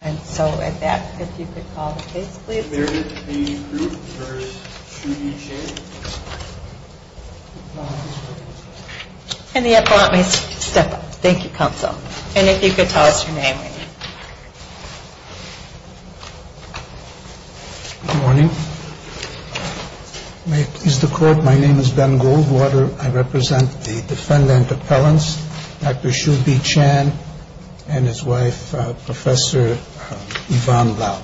Good morning. May it please the Court, my name is Ben Goldwater. I represent the defendant Yvonne Lau.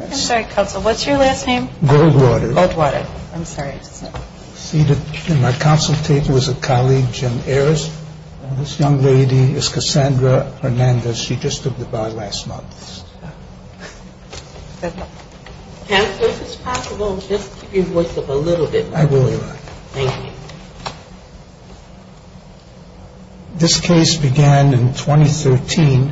I'm sorry Counsel, what's your last name? Goldwater. Goldwater, I'm sorry. Seated in my counsel table is a colleague, Jim Ayers. This young lady is Cassandra Hernandez. She just stood by last month. Counsel, if it's possible, just keep your voice up a little bit. I will, Yvonne. Thank you. This case began in 2013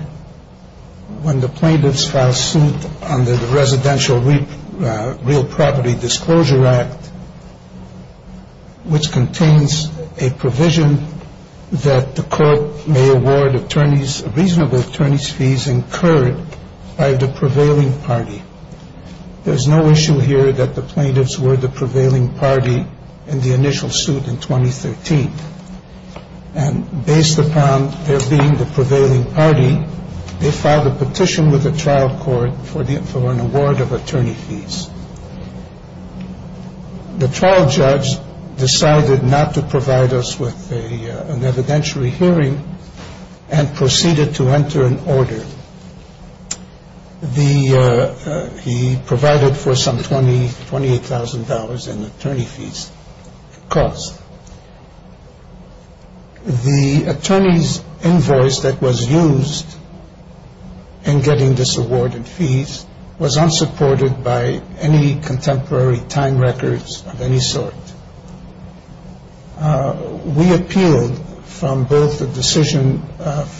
when the plaintiffs filed suit under the Residential Real Property Disclosure Act, which contains a provision that the court may award reasonable attorney's fees incurred by the prevailing party. There's no issue here that the plaintiffs were the prevailing party in the initial suit in 2013. And based upon their being the prevailing party, they filed a petition with the trial court for an award of attorney fees. The trial judge decided not to provide us with an evidentiary hearing and proceeded to enter an order. He provided for some $28,000 in attorney fees cost. The attorney's invoice that was used in getting this award in fees was unsupported by any contemporary time records of any sort. We appealed from both the decision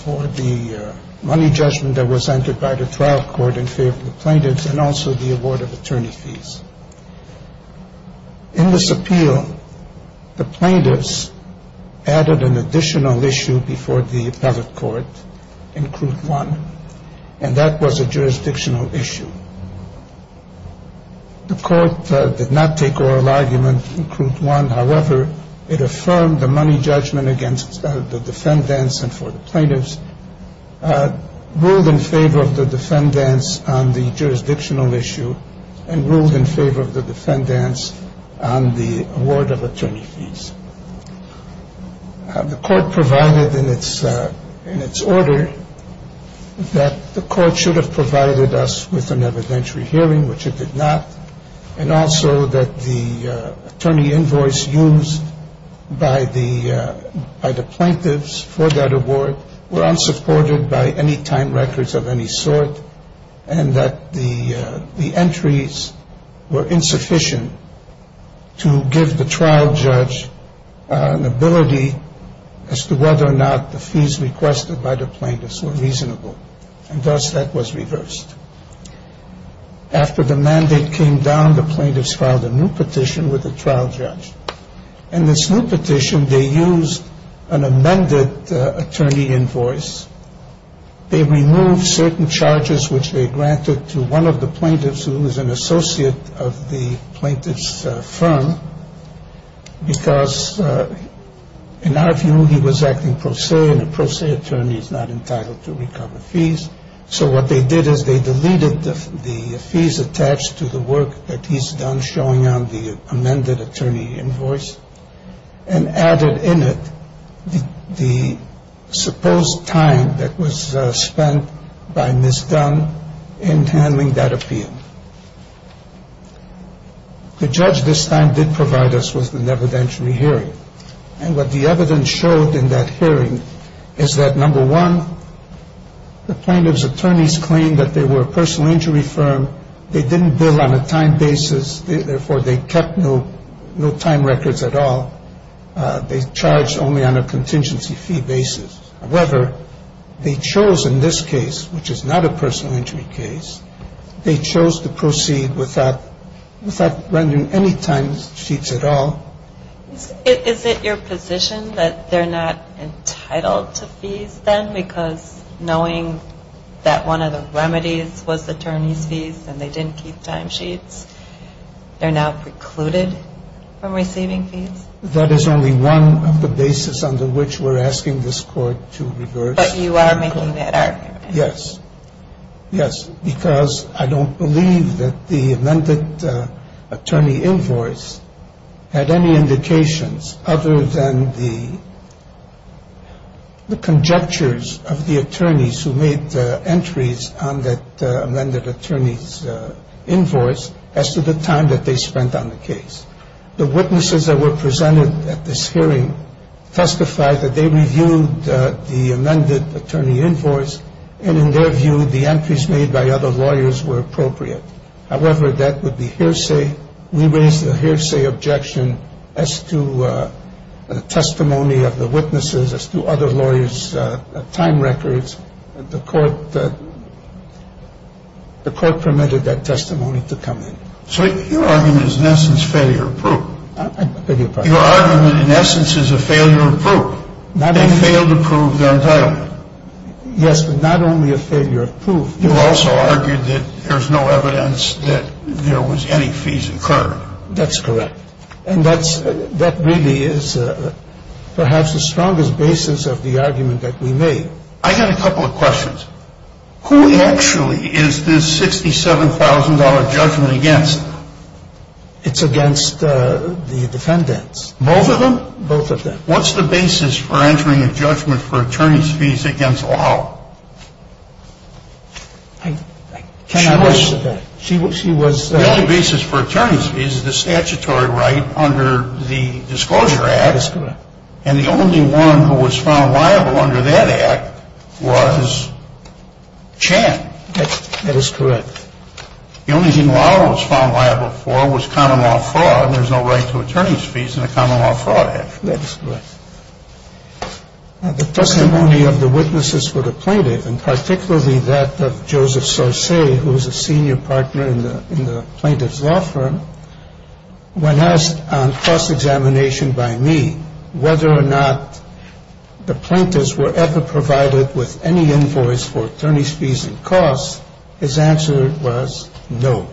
for the money judgment that was entered by the trial court in favor of the plaintiffs and also the award of attorney fees. In this appeal, the plaintiffs added an additional issue before the appellate court in crude one, and that was a jurisdictional issue. The court did not take oral argument in crude one. However, it affirmed the money judgment against the defendants and for the plaintiffs, ruled in favor of the defendants on the jurisdictional issue, and ruled in favor of the defendants on the award of attorney fees. The court provided in its order that the court should have provided us with an evidentiary hearing, which it did not, and also that the attorney invoice used by the plaintiffs for that award were unsupported by any time records of any sort and that the entries were insufficient to give the trial judge an ability as to whether or not the fees requested by the plaintiffs were reasonable. And thus, that was reversed. After the mandate came down, the plaintiffs filed a new petition with the trial judge. In this new petition, they used an amended attorney invoice. They removed certain charges, which they granted to one of the plaintiffs, who is an associate of the plaintiff's firm, because in our view, he was acting pro se, and a pro se attorney is not entitled to recover fees. So what they did is they deleted the fees attached to the work that he's done showing on the amended attorney invoice and added in it the supposed time that was spent by Ms. Dunn in handling that appeal. The judge this time did provide us with an evidentiary hearing, and what the evidence showed in that hearing is that, number one, the plaintiff's attorneys claimed that they were a personal injury firm. They didn't bill on a time basis. Therefore, they kept no time records at all. They charged only on a contingency fee basis. However, they chose in this case, which is not a personal injury case, they chose to proceed without rendering any time sheets at all. Is it your position that they're not entitled to fees then? Because knowing that one of the remedies was the attorney's fees and they didn't keep time sheets, they're now precluded from receiving fees? That is only one of the basis under which we're asking this Court to reverse. But you are making that argument. Yes. Yes, because I don't believe that the amended attorney invoice had any indications other than the conjectures of the attorneys who made entries on that amended attorney's invoice as to the time that they spent on the case. The witnesses that were presented at this hearing testified that they reviewed the amended attorney invoice and in their view the entries made by other lawyers were appropriate. However, that would be hearsay. We raised a hearsay objection as to the testimony of the witnesses as to other lawyers' time records. The Court permitted that testimony to come in. So your argument is in essence failure of proof. I beg your pardon? Your argument in essence is a failure of proof. They failed to prove their entitlement. Yes, but not only a failure of proof. You also argued that there's no evidence that there was any fees incurred. That's correct. And that really is perhaps the strongest basis of the argument that we made. I got a couple of questions. Who actually is this $67,000 judgment against? It's against the defendants. Both of them? Both of them. What's the basis for entering a judgment for attorney's fees against Lau? I cannot answer that. She was? The only basis for attorney's fees is the statutory right under the Disclosure Act. That is correct. And the only one who was found liable under that Act was Chan. That is correct. The only thing Lau was found liable for was common law fraud. There's no right to attorney's fees in the Common Law Fraud Act. That is correct. The testimony of the witnesses for the plaintiff, and particularly that of Joseph Saucer, who was a senior partner in the plaintiff's law firm, when asked on cross-examination by me whether or not the plaintiffs were ever provided with any invoice for attorney's fees and costs, his answer was no.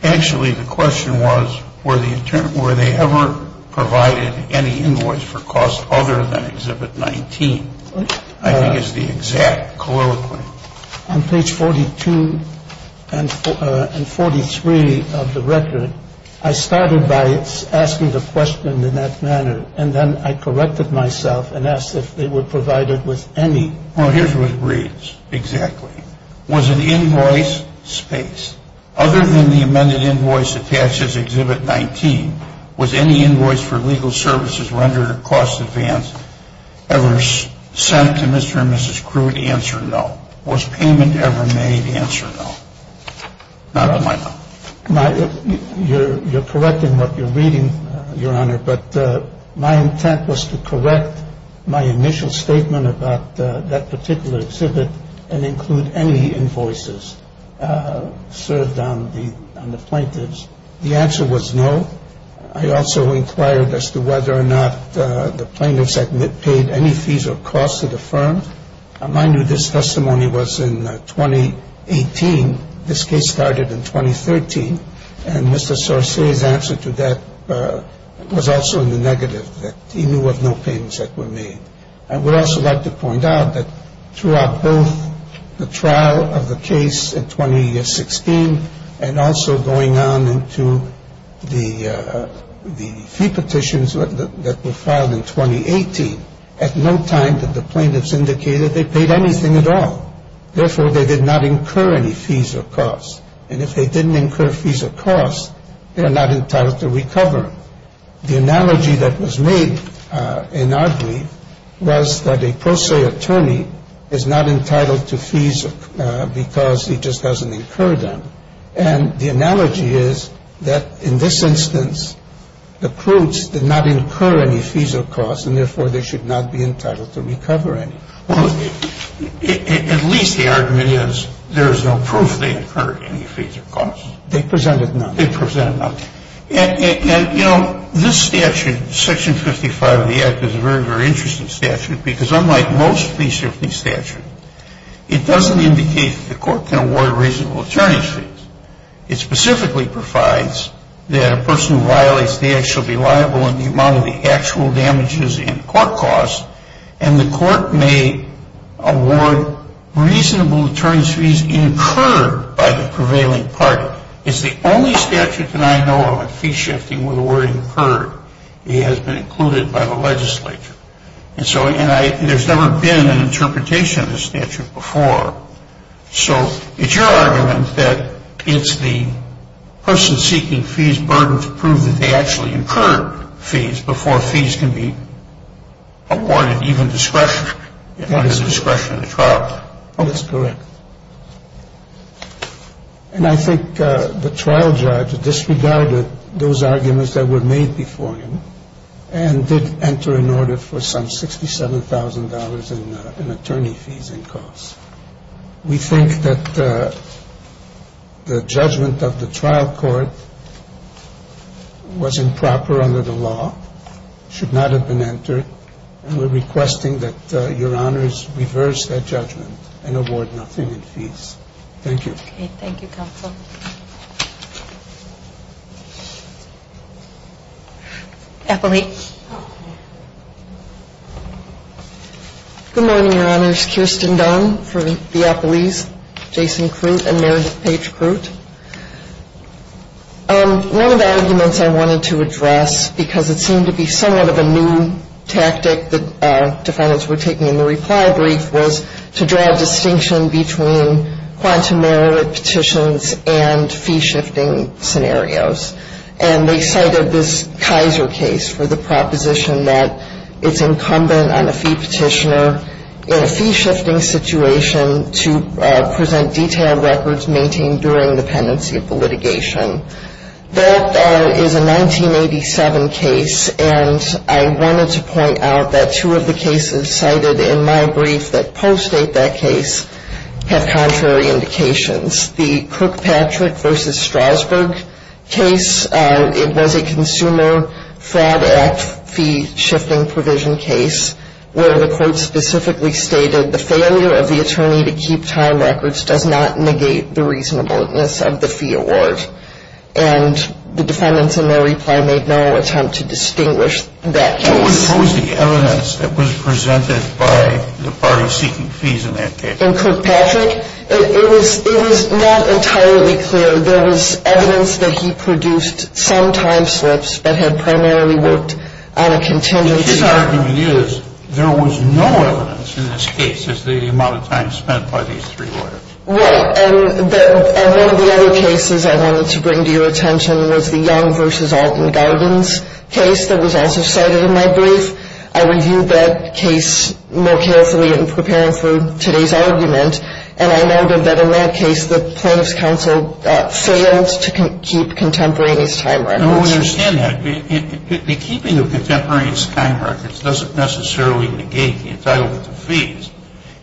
The question was, were they ever provided any invoice for costs other than Exhibit 19? I think it's the exact colloquy. On page 42 and 43 of the record, I started by asking the question in that manner, and then I corrected myself and asked if they were provided with any. Well, here's what it reads exactly. Was an invoice space. Other than the amended invoice attached as Exhibit 19, was any invoice for legal services rendered a cost advance ever sent to Mr. and Mrs. Crude? Answer, no. Was payment ever made? Answer, no. Not on my part. You're correct in what you're reading, Your Honor, but my intent was to correct my initial statement about that particular exhibit and include any invoices served on the plaintiffs. The answer was no. I also inquired as to whether or not the plaintiffs had paid any fees or costs to the firm. Mind you, this testimony was in 2018. This case started in 2013, and Mr. Sorce's answer to that was also in the negative, that he knew of no payments that were made. I would also like to point out that throughout both the trial of the case in 2016 and also going on into the fee petitions that were filed in 2018, at no time did the plaintiffs indicate that they paid anything at all. Therefore, they did not incur any fees or costs. And if they didn't incur fees or costs, they are not entitled to recover them. The analogy that was made in our brief was that a pro se attorney is not entitled to fees because he just doesn't incur them. And the analogy is that in this instance, the Crudes did not incur any fees or costs, and therefore they should not be entitled to recover any. Well, at least the argument is there is no proof they incurred any fees or costs. They presented none. They presented none. And, you know, this statute, Section 55 of the Act, is a very, very interesting statute because unlike most fee shifting statutes, it doesn't indicate that the court can award reasonable attorney fees. It specifically provides that a person who violates the Act shall be liable in the amount of the actual damages in court costs, and the court may award reasonable attorney fees incurred by the prevailing party. It's the only statute that I know of in fee shifting where the word incurred has been included by the legislature. And so there's never been an interpretation of this statute before. So it's your argument that it's the person seeking fees' burden to prove that they actually incurred fees before fees can be awarded even discretion. Even discretion in the trial. That is correct. And I think the trial judge disregarded those arguments that were made before him and did enter an order for some $67,000 in attorney fees and costs. We think that the judgment of the trial court was improper under the law, should not have been entered, and we're requesting that Your Honors reverse that judgment and award nothing in fees. Thank you. Okay. Thank you, Counsel. Appellate. Good morning, Your Honors. Kirsten Dunn for the appellees. Jason Crute and Mary Page Crute. One of the arguments I wanted to address, because it seemed to be somewhat of a new tactic that defendants were taking in the reply brief, was to draw a distinction between quantum merit petitions and fee shifting scenarios. And they cited this Kaiser case for the proposition that it's incumbent on a fee petitioner in a fee shifting situation to present detailed records maintained during the pendency of the litigation. That is a 1987 case, and I wanted to point out that two of the cases cited in my brief that post-date that case have contrary indications. The Kirkpatrick v. Strasburg case, it was a Consumer Fraud Act fee shifting provision case, where the court specifically stated the failure of the attorney to keep time records does not negate the reasonableness of the fee award. And the defendants in their reply made no attempt to distinguish that case. What was the evidence that was presented by the parties seeking fees in that case? In Kirkpatrick, it was not entirely clear. There was evidence that he produced some time slips that had primarily worked on a contingency order. His argument is there was no evidence in this case as to the amount of time spent by these three lawyers. Right. And one of the other cases I wanted to bring to your attention was the Young v. Alton Gardens case that was also cited in my brief. I reviewed that case more carefully in preparing for today's argument, and I noted that in that case the plaintiff's counsel failed to keep contemporaneous time records. No, we understand that. The keeping of contemporaneous time records doesn't necessarily negate the entitlement to fees.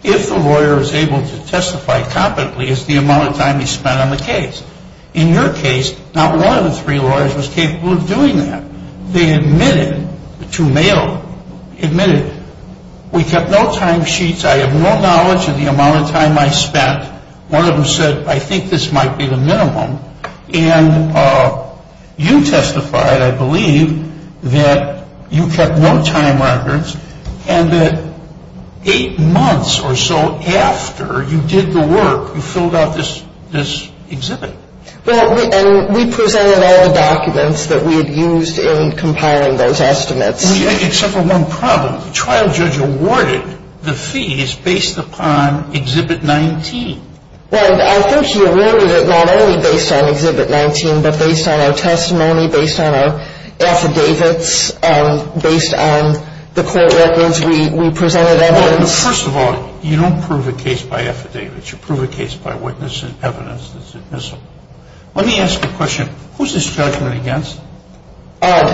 If the lawyer is able to testify competently, it's the amount of time he spent on the case. In your case, not one of the three lawyers was capable of doing that. They admitted to mail, admitted, we kept no time sheets. I have no knowledge of the amount of time I spent. One of them said, I think this might be the minimum. And you testified, I believe, that you kept no time records, and that eight months or so after you did the work, you filled out this exhibit. Well, and we presented all the documents that we had used in compiling those estimates. Except for one problem. The trial judge awarded the fees based upon Exhibit 19. Well, I think he alluded it not only based on Exhibit 19, but based on our testimony, based on our affidavits, based on the court records. We presented evidence. First of all, you don't prove a case by affidavits. You prove a case by witness and evidence that's admissible. Let me ask you a question. Who's this judgment against? I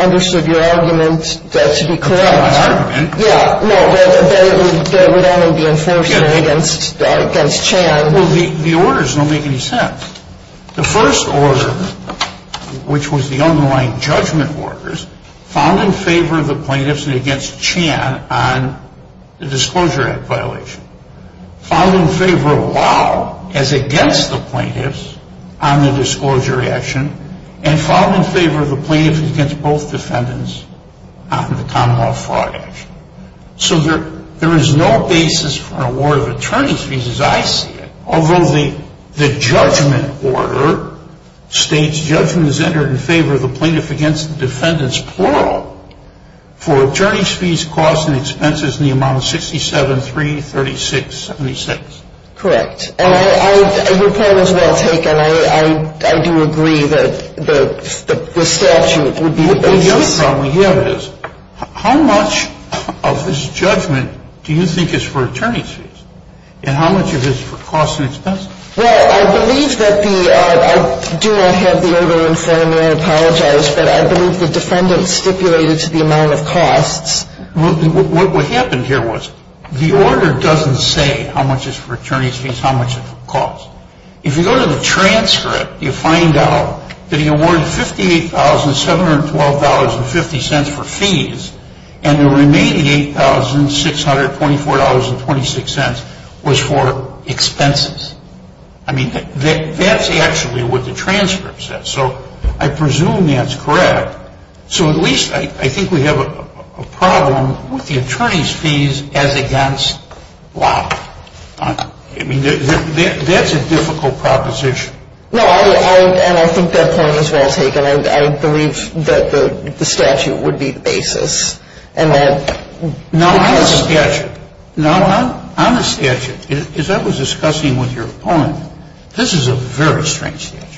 understood your argument to be correct. My argument? Yeah. No, that it would only be enforced against Chan. Well, the orders don't make any sense. The first order, which was the underlying judgment orders, found in favor of the plaintiffs and against Chan on the Disclosure Act violation, found in favor of Lau as against the plaintiffs on the Disclosure Act action, and found in favor of the plaintiffs against both defendants on the Common Law Fraud action. So there is no basis for an award of attorney's fees as I see it. Although the judgment order states judgment is entered in favor of the plaintiff against the defendants, plural, for attorney's fees, costs, and expenses in the amount of 67,336.76. Correct. And your point is well taken. I do agree that the statute would be the basis. The other problem we have is how much of this judgment do you think is for attorney's fees and how much of it is for costs and expenses? Well, I believe that the – I do not have the order in front of me. I apologize. But I believe the defendant stipulated to the amount of costs. What happened here was the order doesn't say how much is for attorney's fees, how much it costs. If you go to the transcript, you find out that he awarded $58,712.50 for fees and the remaining $8,624.26 was for expenses. I mean, that's actually what the transcript says. So I presume that's correct. So at least I think we have a problem with the attorney's fees as against law. I mean, that's a difficult proposition. No, and I think that point is well taken. I believe that the statute would be the basis. Now, on the statute, as I was discussing with your opponent, this is a very strange statute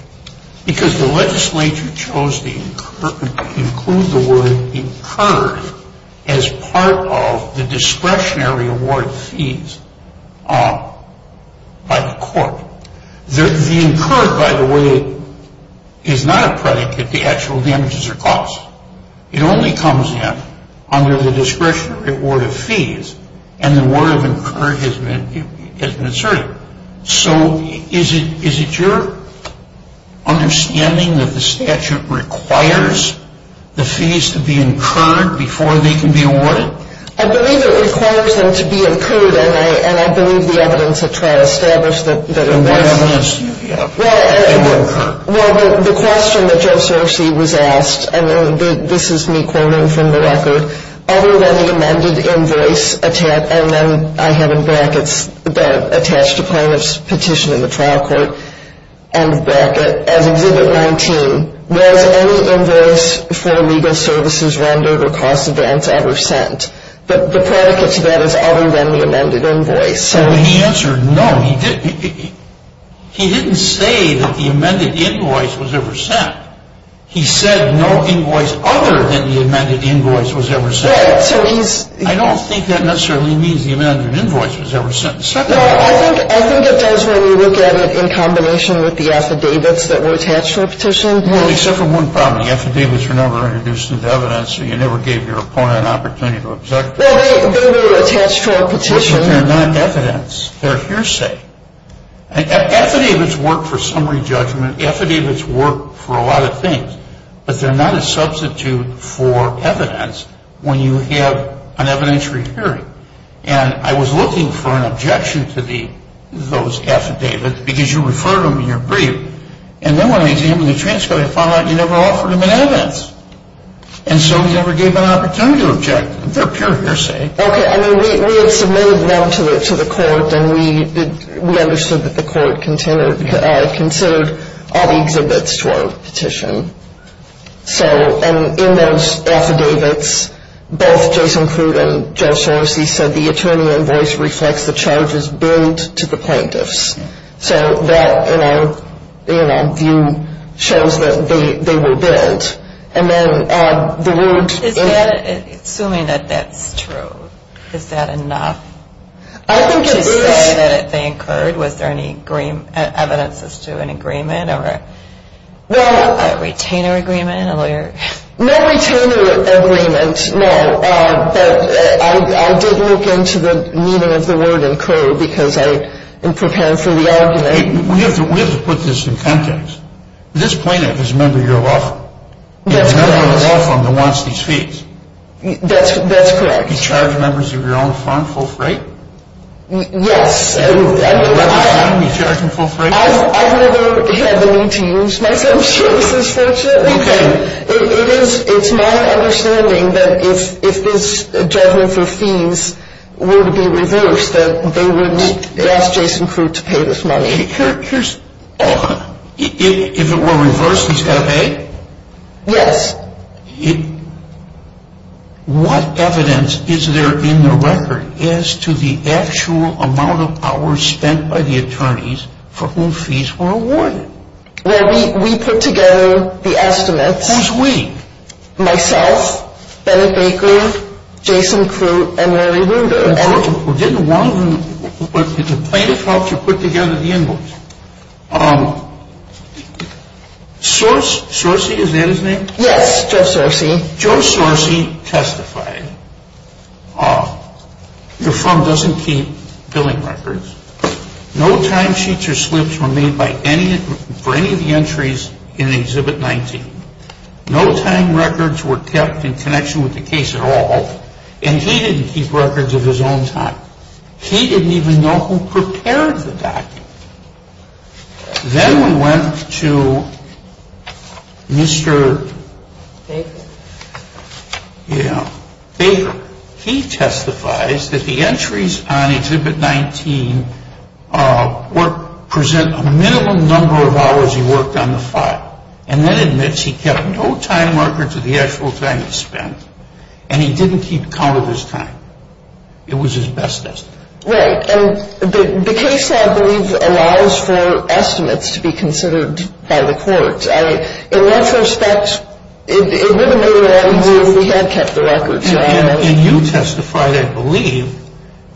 because the legislature chose to include the word incurred as part of the discretionary award fees by the court. The incurred, by the way, is not a predicate to actual damages or costs. It only comes in under the discretionary award of fees, and the word of incurred has been asserted. So is it your understanding that the statute requires the fees to be incurred before they can be awarded? I believe it requires them to be incurred, and I believe the evidence at trial established that it was. And why does it have to be incurred? Well, the question that Joe Cerci was asked, and this is me quoting from the record, other than the amended invoice, and then I have in brackets attached a plaintiff's petition in the trial court, as Exhibit 19, was any invoice for legal services rendered or cost advance ever sent? But the predicate to that is other than the amended invoice. Well, he answered no. He didn't say that the amended invoice was ever sent. He said no invoice other than the amended invoice was ever sent. I don't think that necessarily means the amended invoice was ever sent. No, I think it does when you look at it in combination with the affidavits that were attached to a petition. Well, except for one problem. The affidavits were never introduced as evidence, so you never gave your opponent an opportunity to object. Well, they were attached to a petition. But they're not evidence. They're hearsay. Affidavits work for summary judgment. Affidavits work for a lot of things. But they're not a substitute for evidence when you have an evidentiary hearing. And I was looking for an objection to those affidavits because you refer to them in your brief. And then when I examined the transcript, I found out you never offered them an evidence. And so we never gave them an opportunity to object. They're pure hearsay. Okay. I mean, we had submitted them to the court, and we understood that the court considered all the exhibits to our petition. So in those affidavits, both Jason Crute and Joe Soros, he said, the attorney in voice reflects the charges billed to the plaintiffs. So that, in our view, shows that they were billed. And then the word ---- Assuming that that's true, is that enough to say that they incurred? Was there any evidence as to an agreement? A retainer agreement, a lawyer? No retainer agreement, no. But I did look into the meaning of the word incurred because I am prepared for the argument. We have to put this in context. This plaintiff is a member of your law firm. That's correct. He's a member of the law firm that wants these fees. That's correct. He charged members of your own firm full freight? Yes. He charged them full freight? I've never had the need to use my services, fortunately. Okay. It's my understanding that if this judgment for fees were to be reversed, that they would ask Jason Crute to pay this money. Here's ---- If it were reversed, he's got to pay? Yes. What evidence is there in the record as to the actual amount of hours spent by the attorneys for whom fees were awarded? Well, we put together the estimates. Who's we? Myself, Bennett Baker, Jason Crute, and Larry Ruder. Didn't one of them, did the plaintiff help you put together the inbox? Sorcey, is that his name? Yes, Joe Sorcey. Joe Sorcey testified. Your firm doesn't keep billing records. No timesheets or slips were made for any of the entries in Exhibit 19. No time records were kept in connection with the case at all. And he didn't keep records of his own time. He didn't even know who prepared the document. Then we went to Mr. Baker. He testifies that the entries on Exhibit 19 present a minimum number of hours he worked on the file. And then admits he kept no time records of the actual time he spent. And he didn't keep count of his time. It was his best estimate. Right. And the case, I believe, allows for estimates to be considered by the courts. In that respect, it would have been a lot easier if we had kept the records. And you testified, I believe,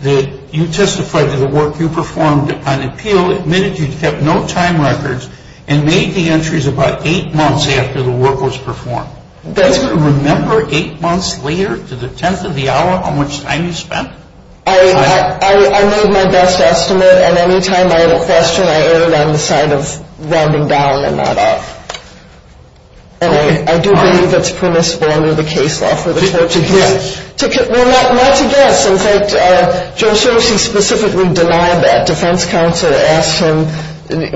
that you testified to the work you performed on appeal, admitted you kept no time records, and made the entries about eight months after the work was performed. That's correct. Do you remember eight months later, to the tenth of the hour, how much time you spent? I made my best estimate. And any time I had a question, I erred on the side of rounding down and not up. And I do believe it's permissible under the case law for the courts to guess. Well, not to guess. In fact, Joe Cersi specifically denied that. Defense counsel asked him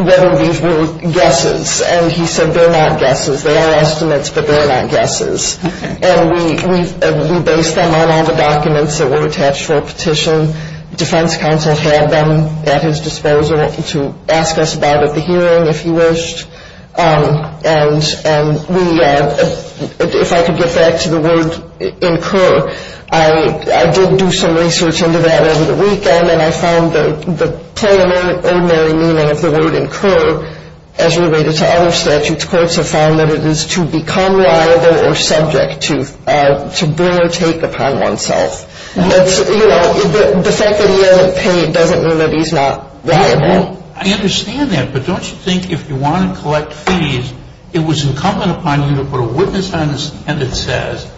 whether these were guesses. And he said they're not guesses. They are estimates, but they're not guesses. And we based them on all the documents that were attached for a petition. Defense counsel had them at his disposal to ask us about at the hearing, if he wished. And we, if I could get back to the word incur, I did do some research into that over the weekend, and I found the plain and ordinary meaning of the word incur, as related to other statutes, which courts have found that it is to become liable or subject to bring or take upon oneself. You know, the fact that he isn't paid doesn't mean that he's not liable. I understand that, but don't you think if you want to collect fees, it was incumbent upon you to put a witness on the stand that says,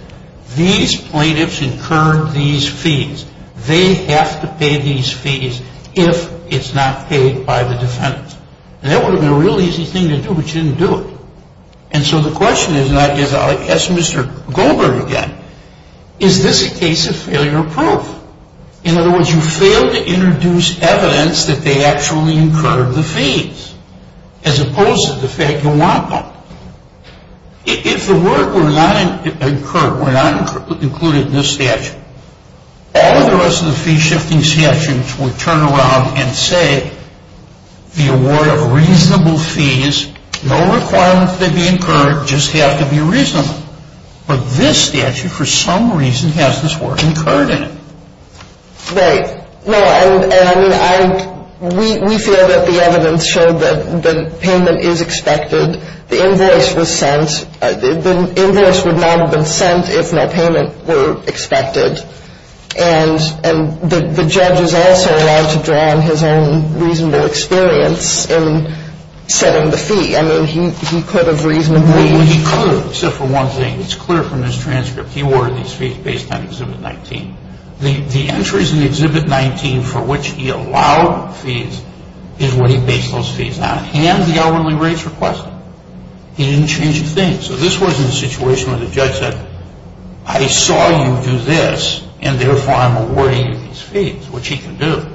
these plaintiffs incurred these fees. They have to pay these fees if it's not paid by the defendant. And that would have been a real easy thing to do, but you didn't do it. And so the question is, and I guess I'll ask Mr. Goldberg again, is this a case of failure of proof? In other words, you failed to introduce evidence that they actually incurred the fees, as opposed to the fact you want them. If the word were not incurred, were not included in this statute, all the rest of the fee-shifting statutes would turn around and say the award of reasonable fees, no requirement to be incurred, just have to be reasonable. But this statute, for some reason, has this word incurred in it. Right. No, and I mean, we feel that the evidence showed that the payment is expected. The invoice was sent. The invoice would not have been sent if no payment were expected. And the judge is also allowed to draw on his own reasonable experience in setting the fee. I mean, he could have reasonably. Well, he could, except for one thing. It's clear from this transcript. He ordered these fees based on Exhibit 19. The entries in Exhibit 19 for which he allowed fees is what he based those fees on. He didn't hand the hourly rates request. He didn't change a thing. So this wasn't a situation where the judge said, I saw you do this, and therefore I'm awarding you these fees, which he can do.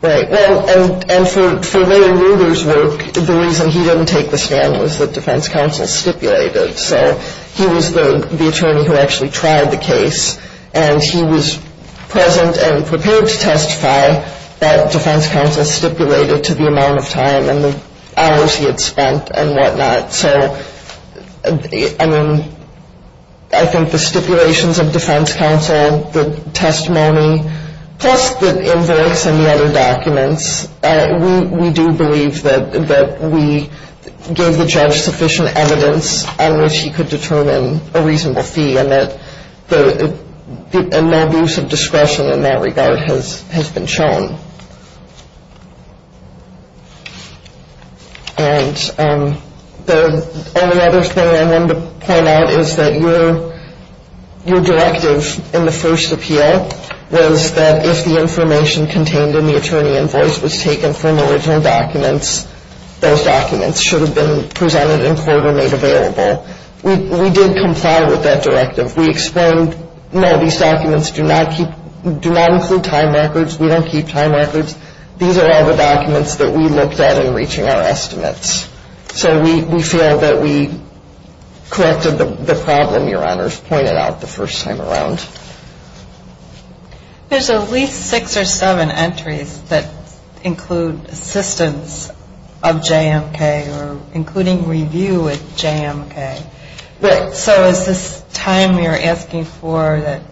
Right. Well, and for Larry Ruger's work, the reason he didn't take the stand was that defense counsel stipulated. So he was the attorney who actually tried the case, and he was present and prepared to testify that defense counsel stipulated to the amount of time and the hours he had spent and whatnot. So, I mean, I think the stipulations of defense counsel, the testimony, plus the invoice and the other documents, we do believe that we gave the judge sufficient evidence on which he could determine a reasonable fee, and no abuse of discretion in that regard has been shown. And the only other thing I wanted to point out is that your directive in the first appeal was that if the information contained in the attorney invoice was taken from the original documents, those documents should have been presented in court or made available. We did comply with that directive. We explained, no, these documents do not include time records. We don't keep time records. These are all the documents that we looked at in reaching our estimates. So we feel that we corrected the problem your honors pointed out the first time around. There's at least six or seven entries that include assistance of JMK or including review with JMK. So is this time you're asking for that?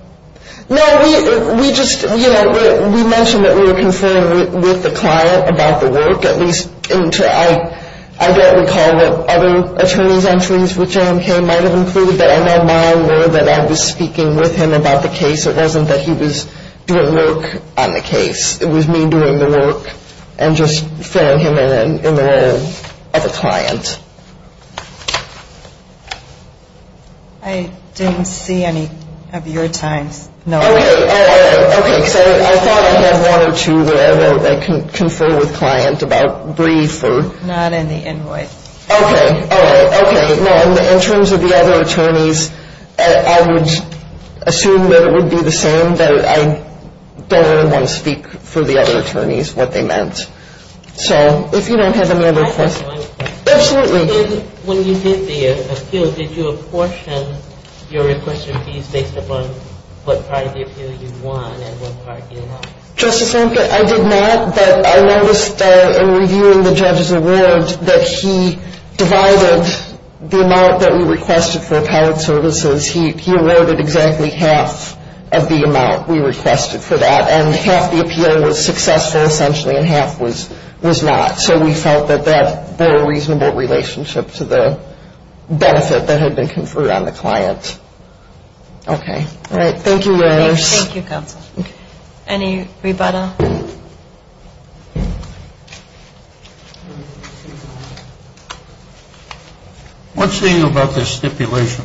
No, we just, you know, we mentioned that we were conferring with the client about the work, at least until I don't recall what other attorney's entries with JMK might have included, but I know now I know that I was speaking with him about the case. It wasn't that he was doing work on the case. It was me doing the work and just filling him in in the role of a client. I didn't see any of your times. No. Okay. All right. Okay. So I thought I had one or two that I wrote that confer with client about brief or. Not in the invoice. Okay. All right. Okay. No, in terms of the other attorneys, I would assume that it would be the same, that I don't really want to speak for the other attorneys what they meant. So if you don't have any other questions. I have one question. Absolutely. When you did the appeal, did you apportion your request of fees based upon what part of the appeal you won and what part you lost? Justice Lampkin, I did not, but I noticed in reviewing the judge's award that he divided the amount that we requested for appellate services. He awarded exactly half of the amount we requested for that, and half the appeal was successful essentially and half was not. So we felt that that bore a reasonable relationship to the benefit that had been conferred on the client. Okay. All right. Thank you, Your Honors. Thank you, Counsel. Any rebuttal? What do you think about this stipulation?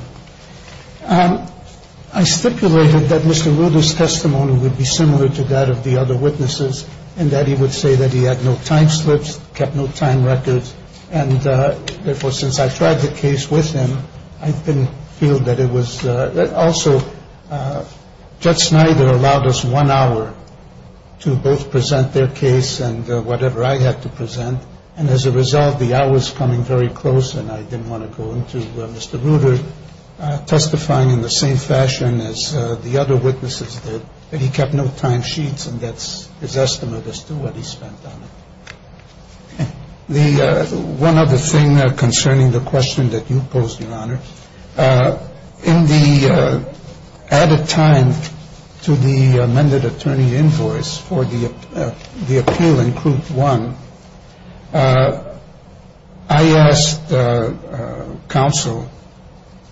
I stipulated that Mr. Ruda's testimony would be similar to that of the other witnesses in that he would say that he had no time slips, kept no time records, and therefore since I tried the case with him, I didn't feel that it was. Also, Judge Snyder allowed us one hour to both present their case and whatever I had to present, and as a result the hour was coming very close and I didn't want to go into Mr. Ruda testifying in the same fashion as the other witnesses did, but he kept no time sheets and that's his estimate as to what he spent on it. One other thing concerning the question that you posed, Your Honor. In the added time to the amended attorney invoice for the appeal in Group 1, I asked Counsel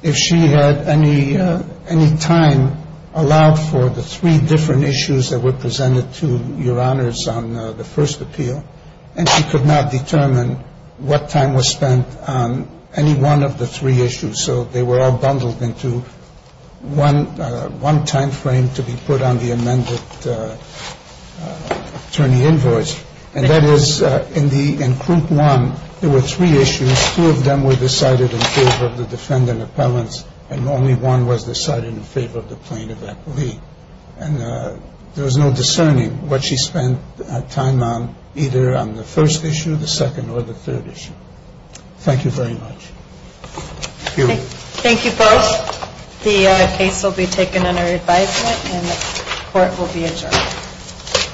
if she had any time allowed for the three different issues that were presented to Your Honors on the first appeal, and she could not determine what time was spent on any one of the three issues, so they were all bundled into one timeframe to be put on the amended attorney invoice, and that is in Group 1, there were three issues. Two of them were decided in favor of the defendant appellants and only one was decided in favor of the plaintiff, I believe, and there was no discerning what she spent time on either on the first issue, the second, or the third issue. Thank you very much. Thank you both. The case will be taken under advisement and the court will be adjourned.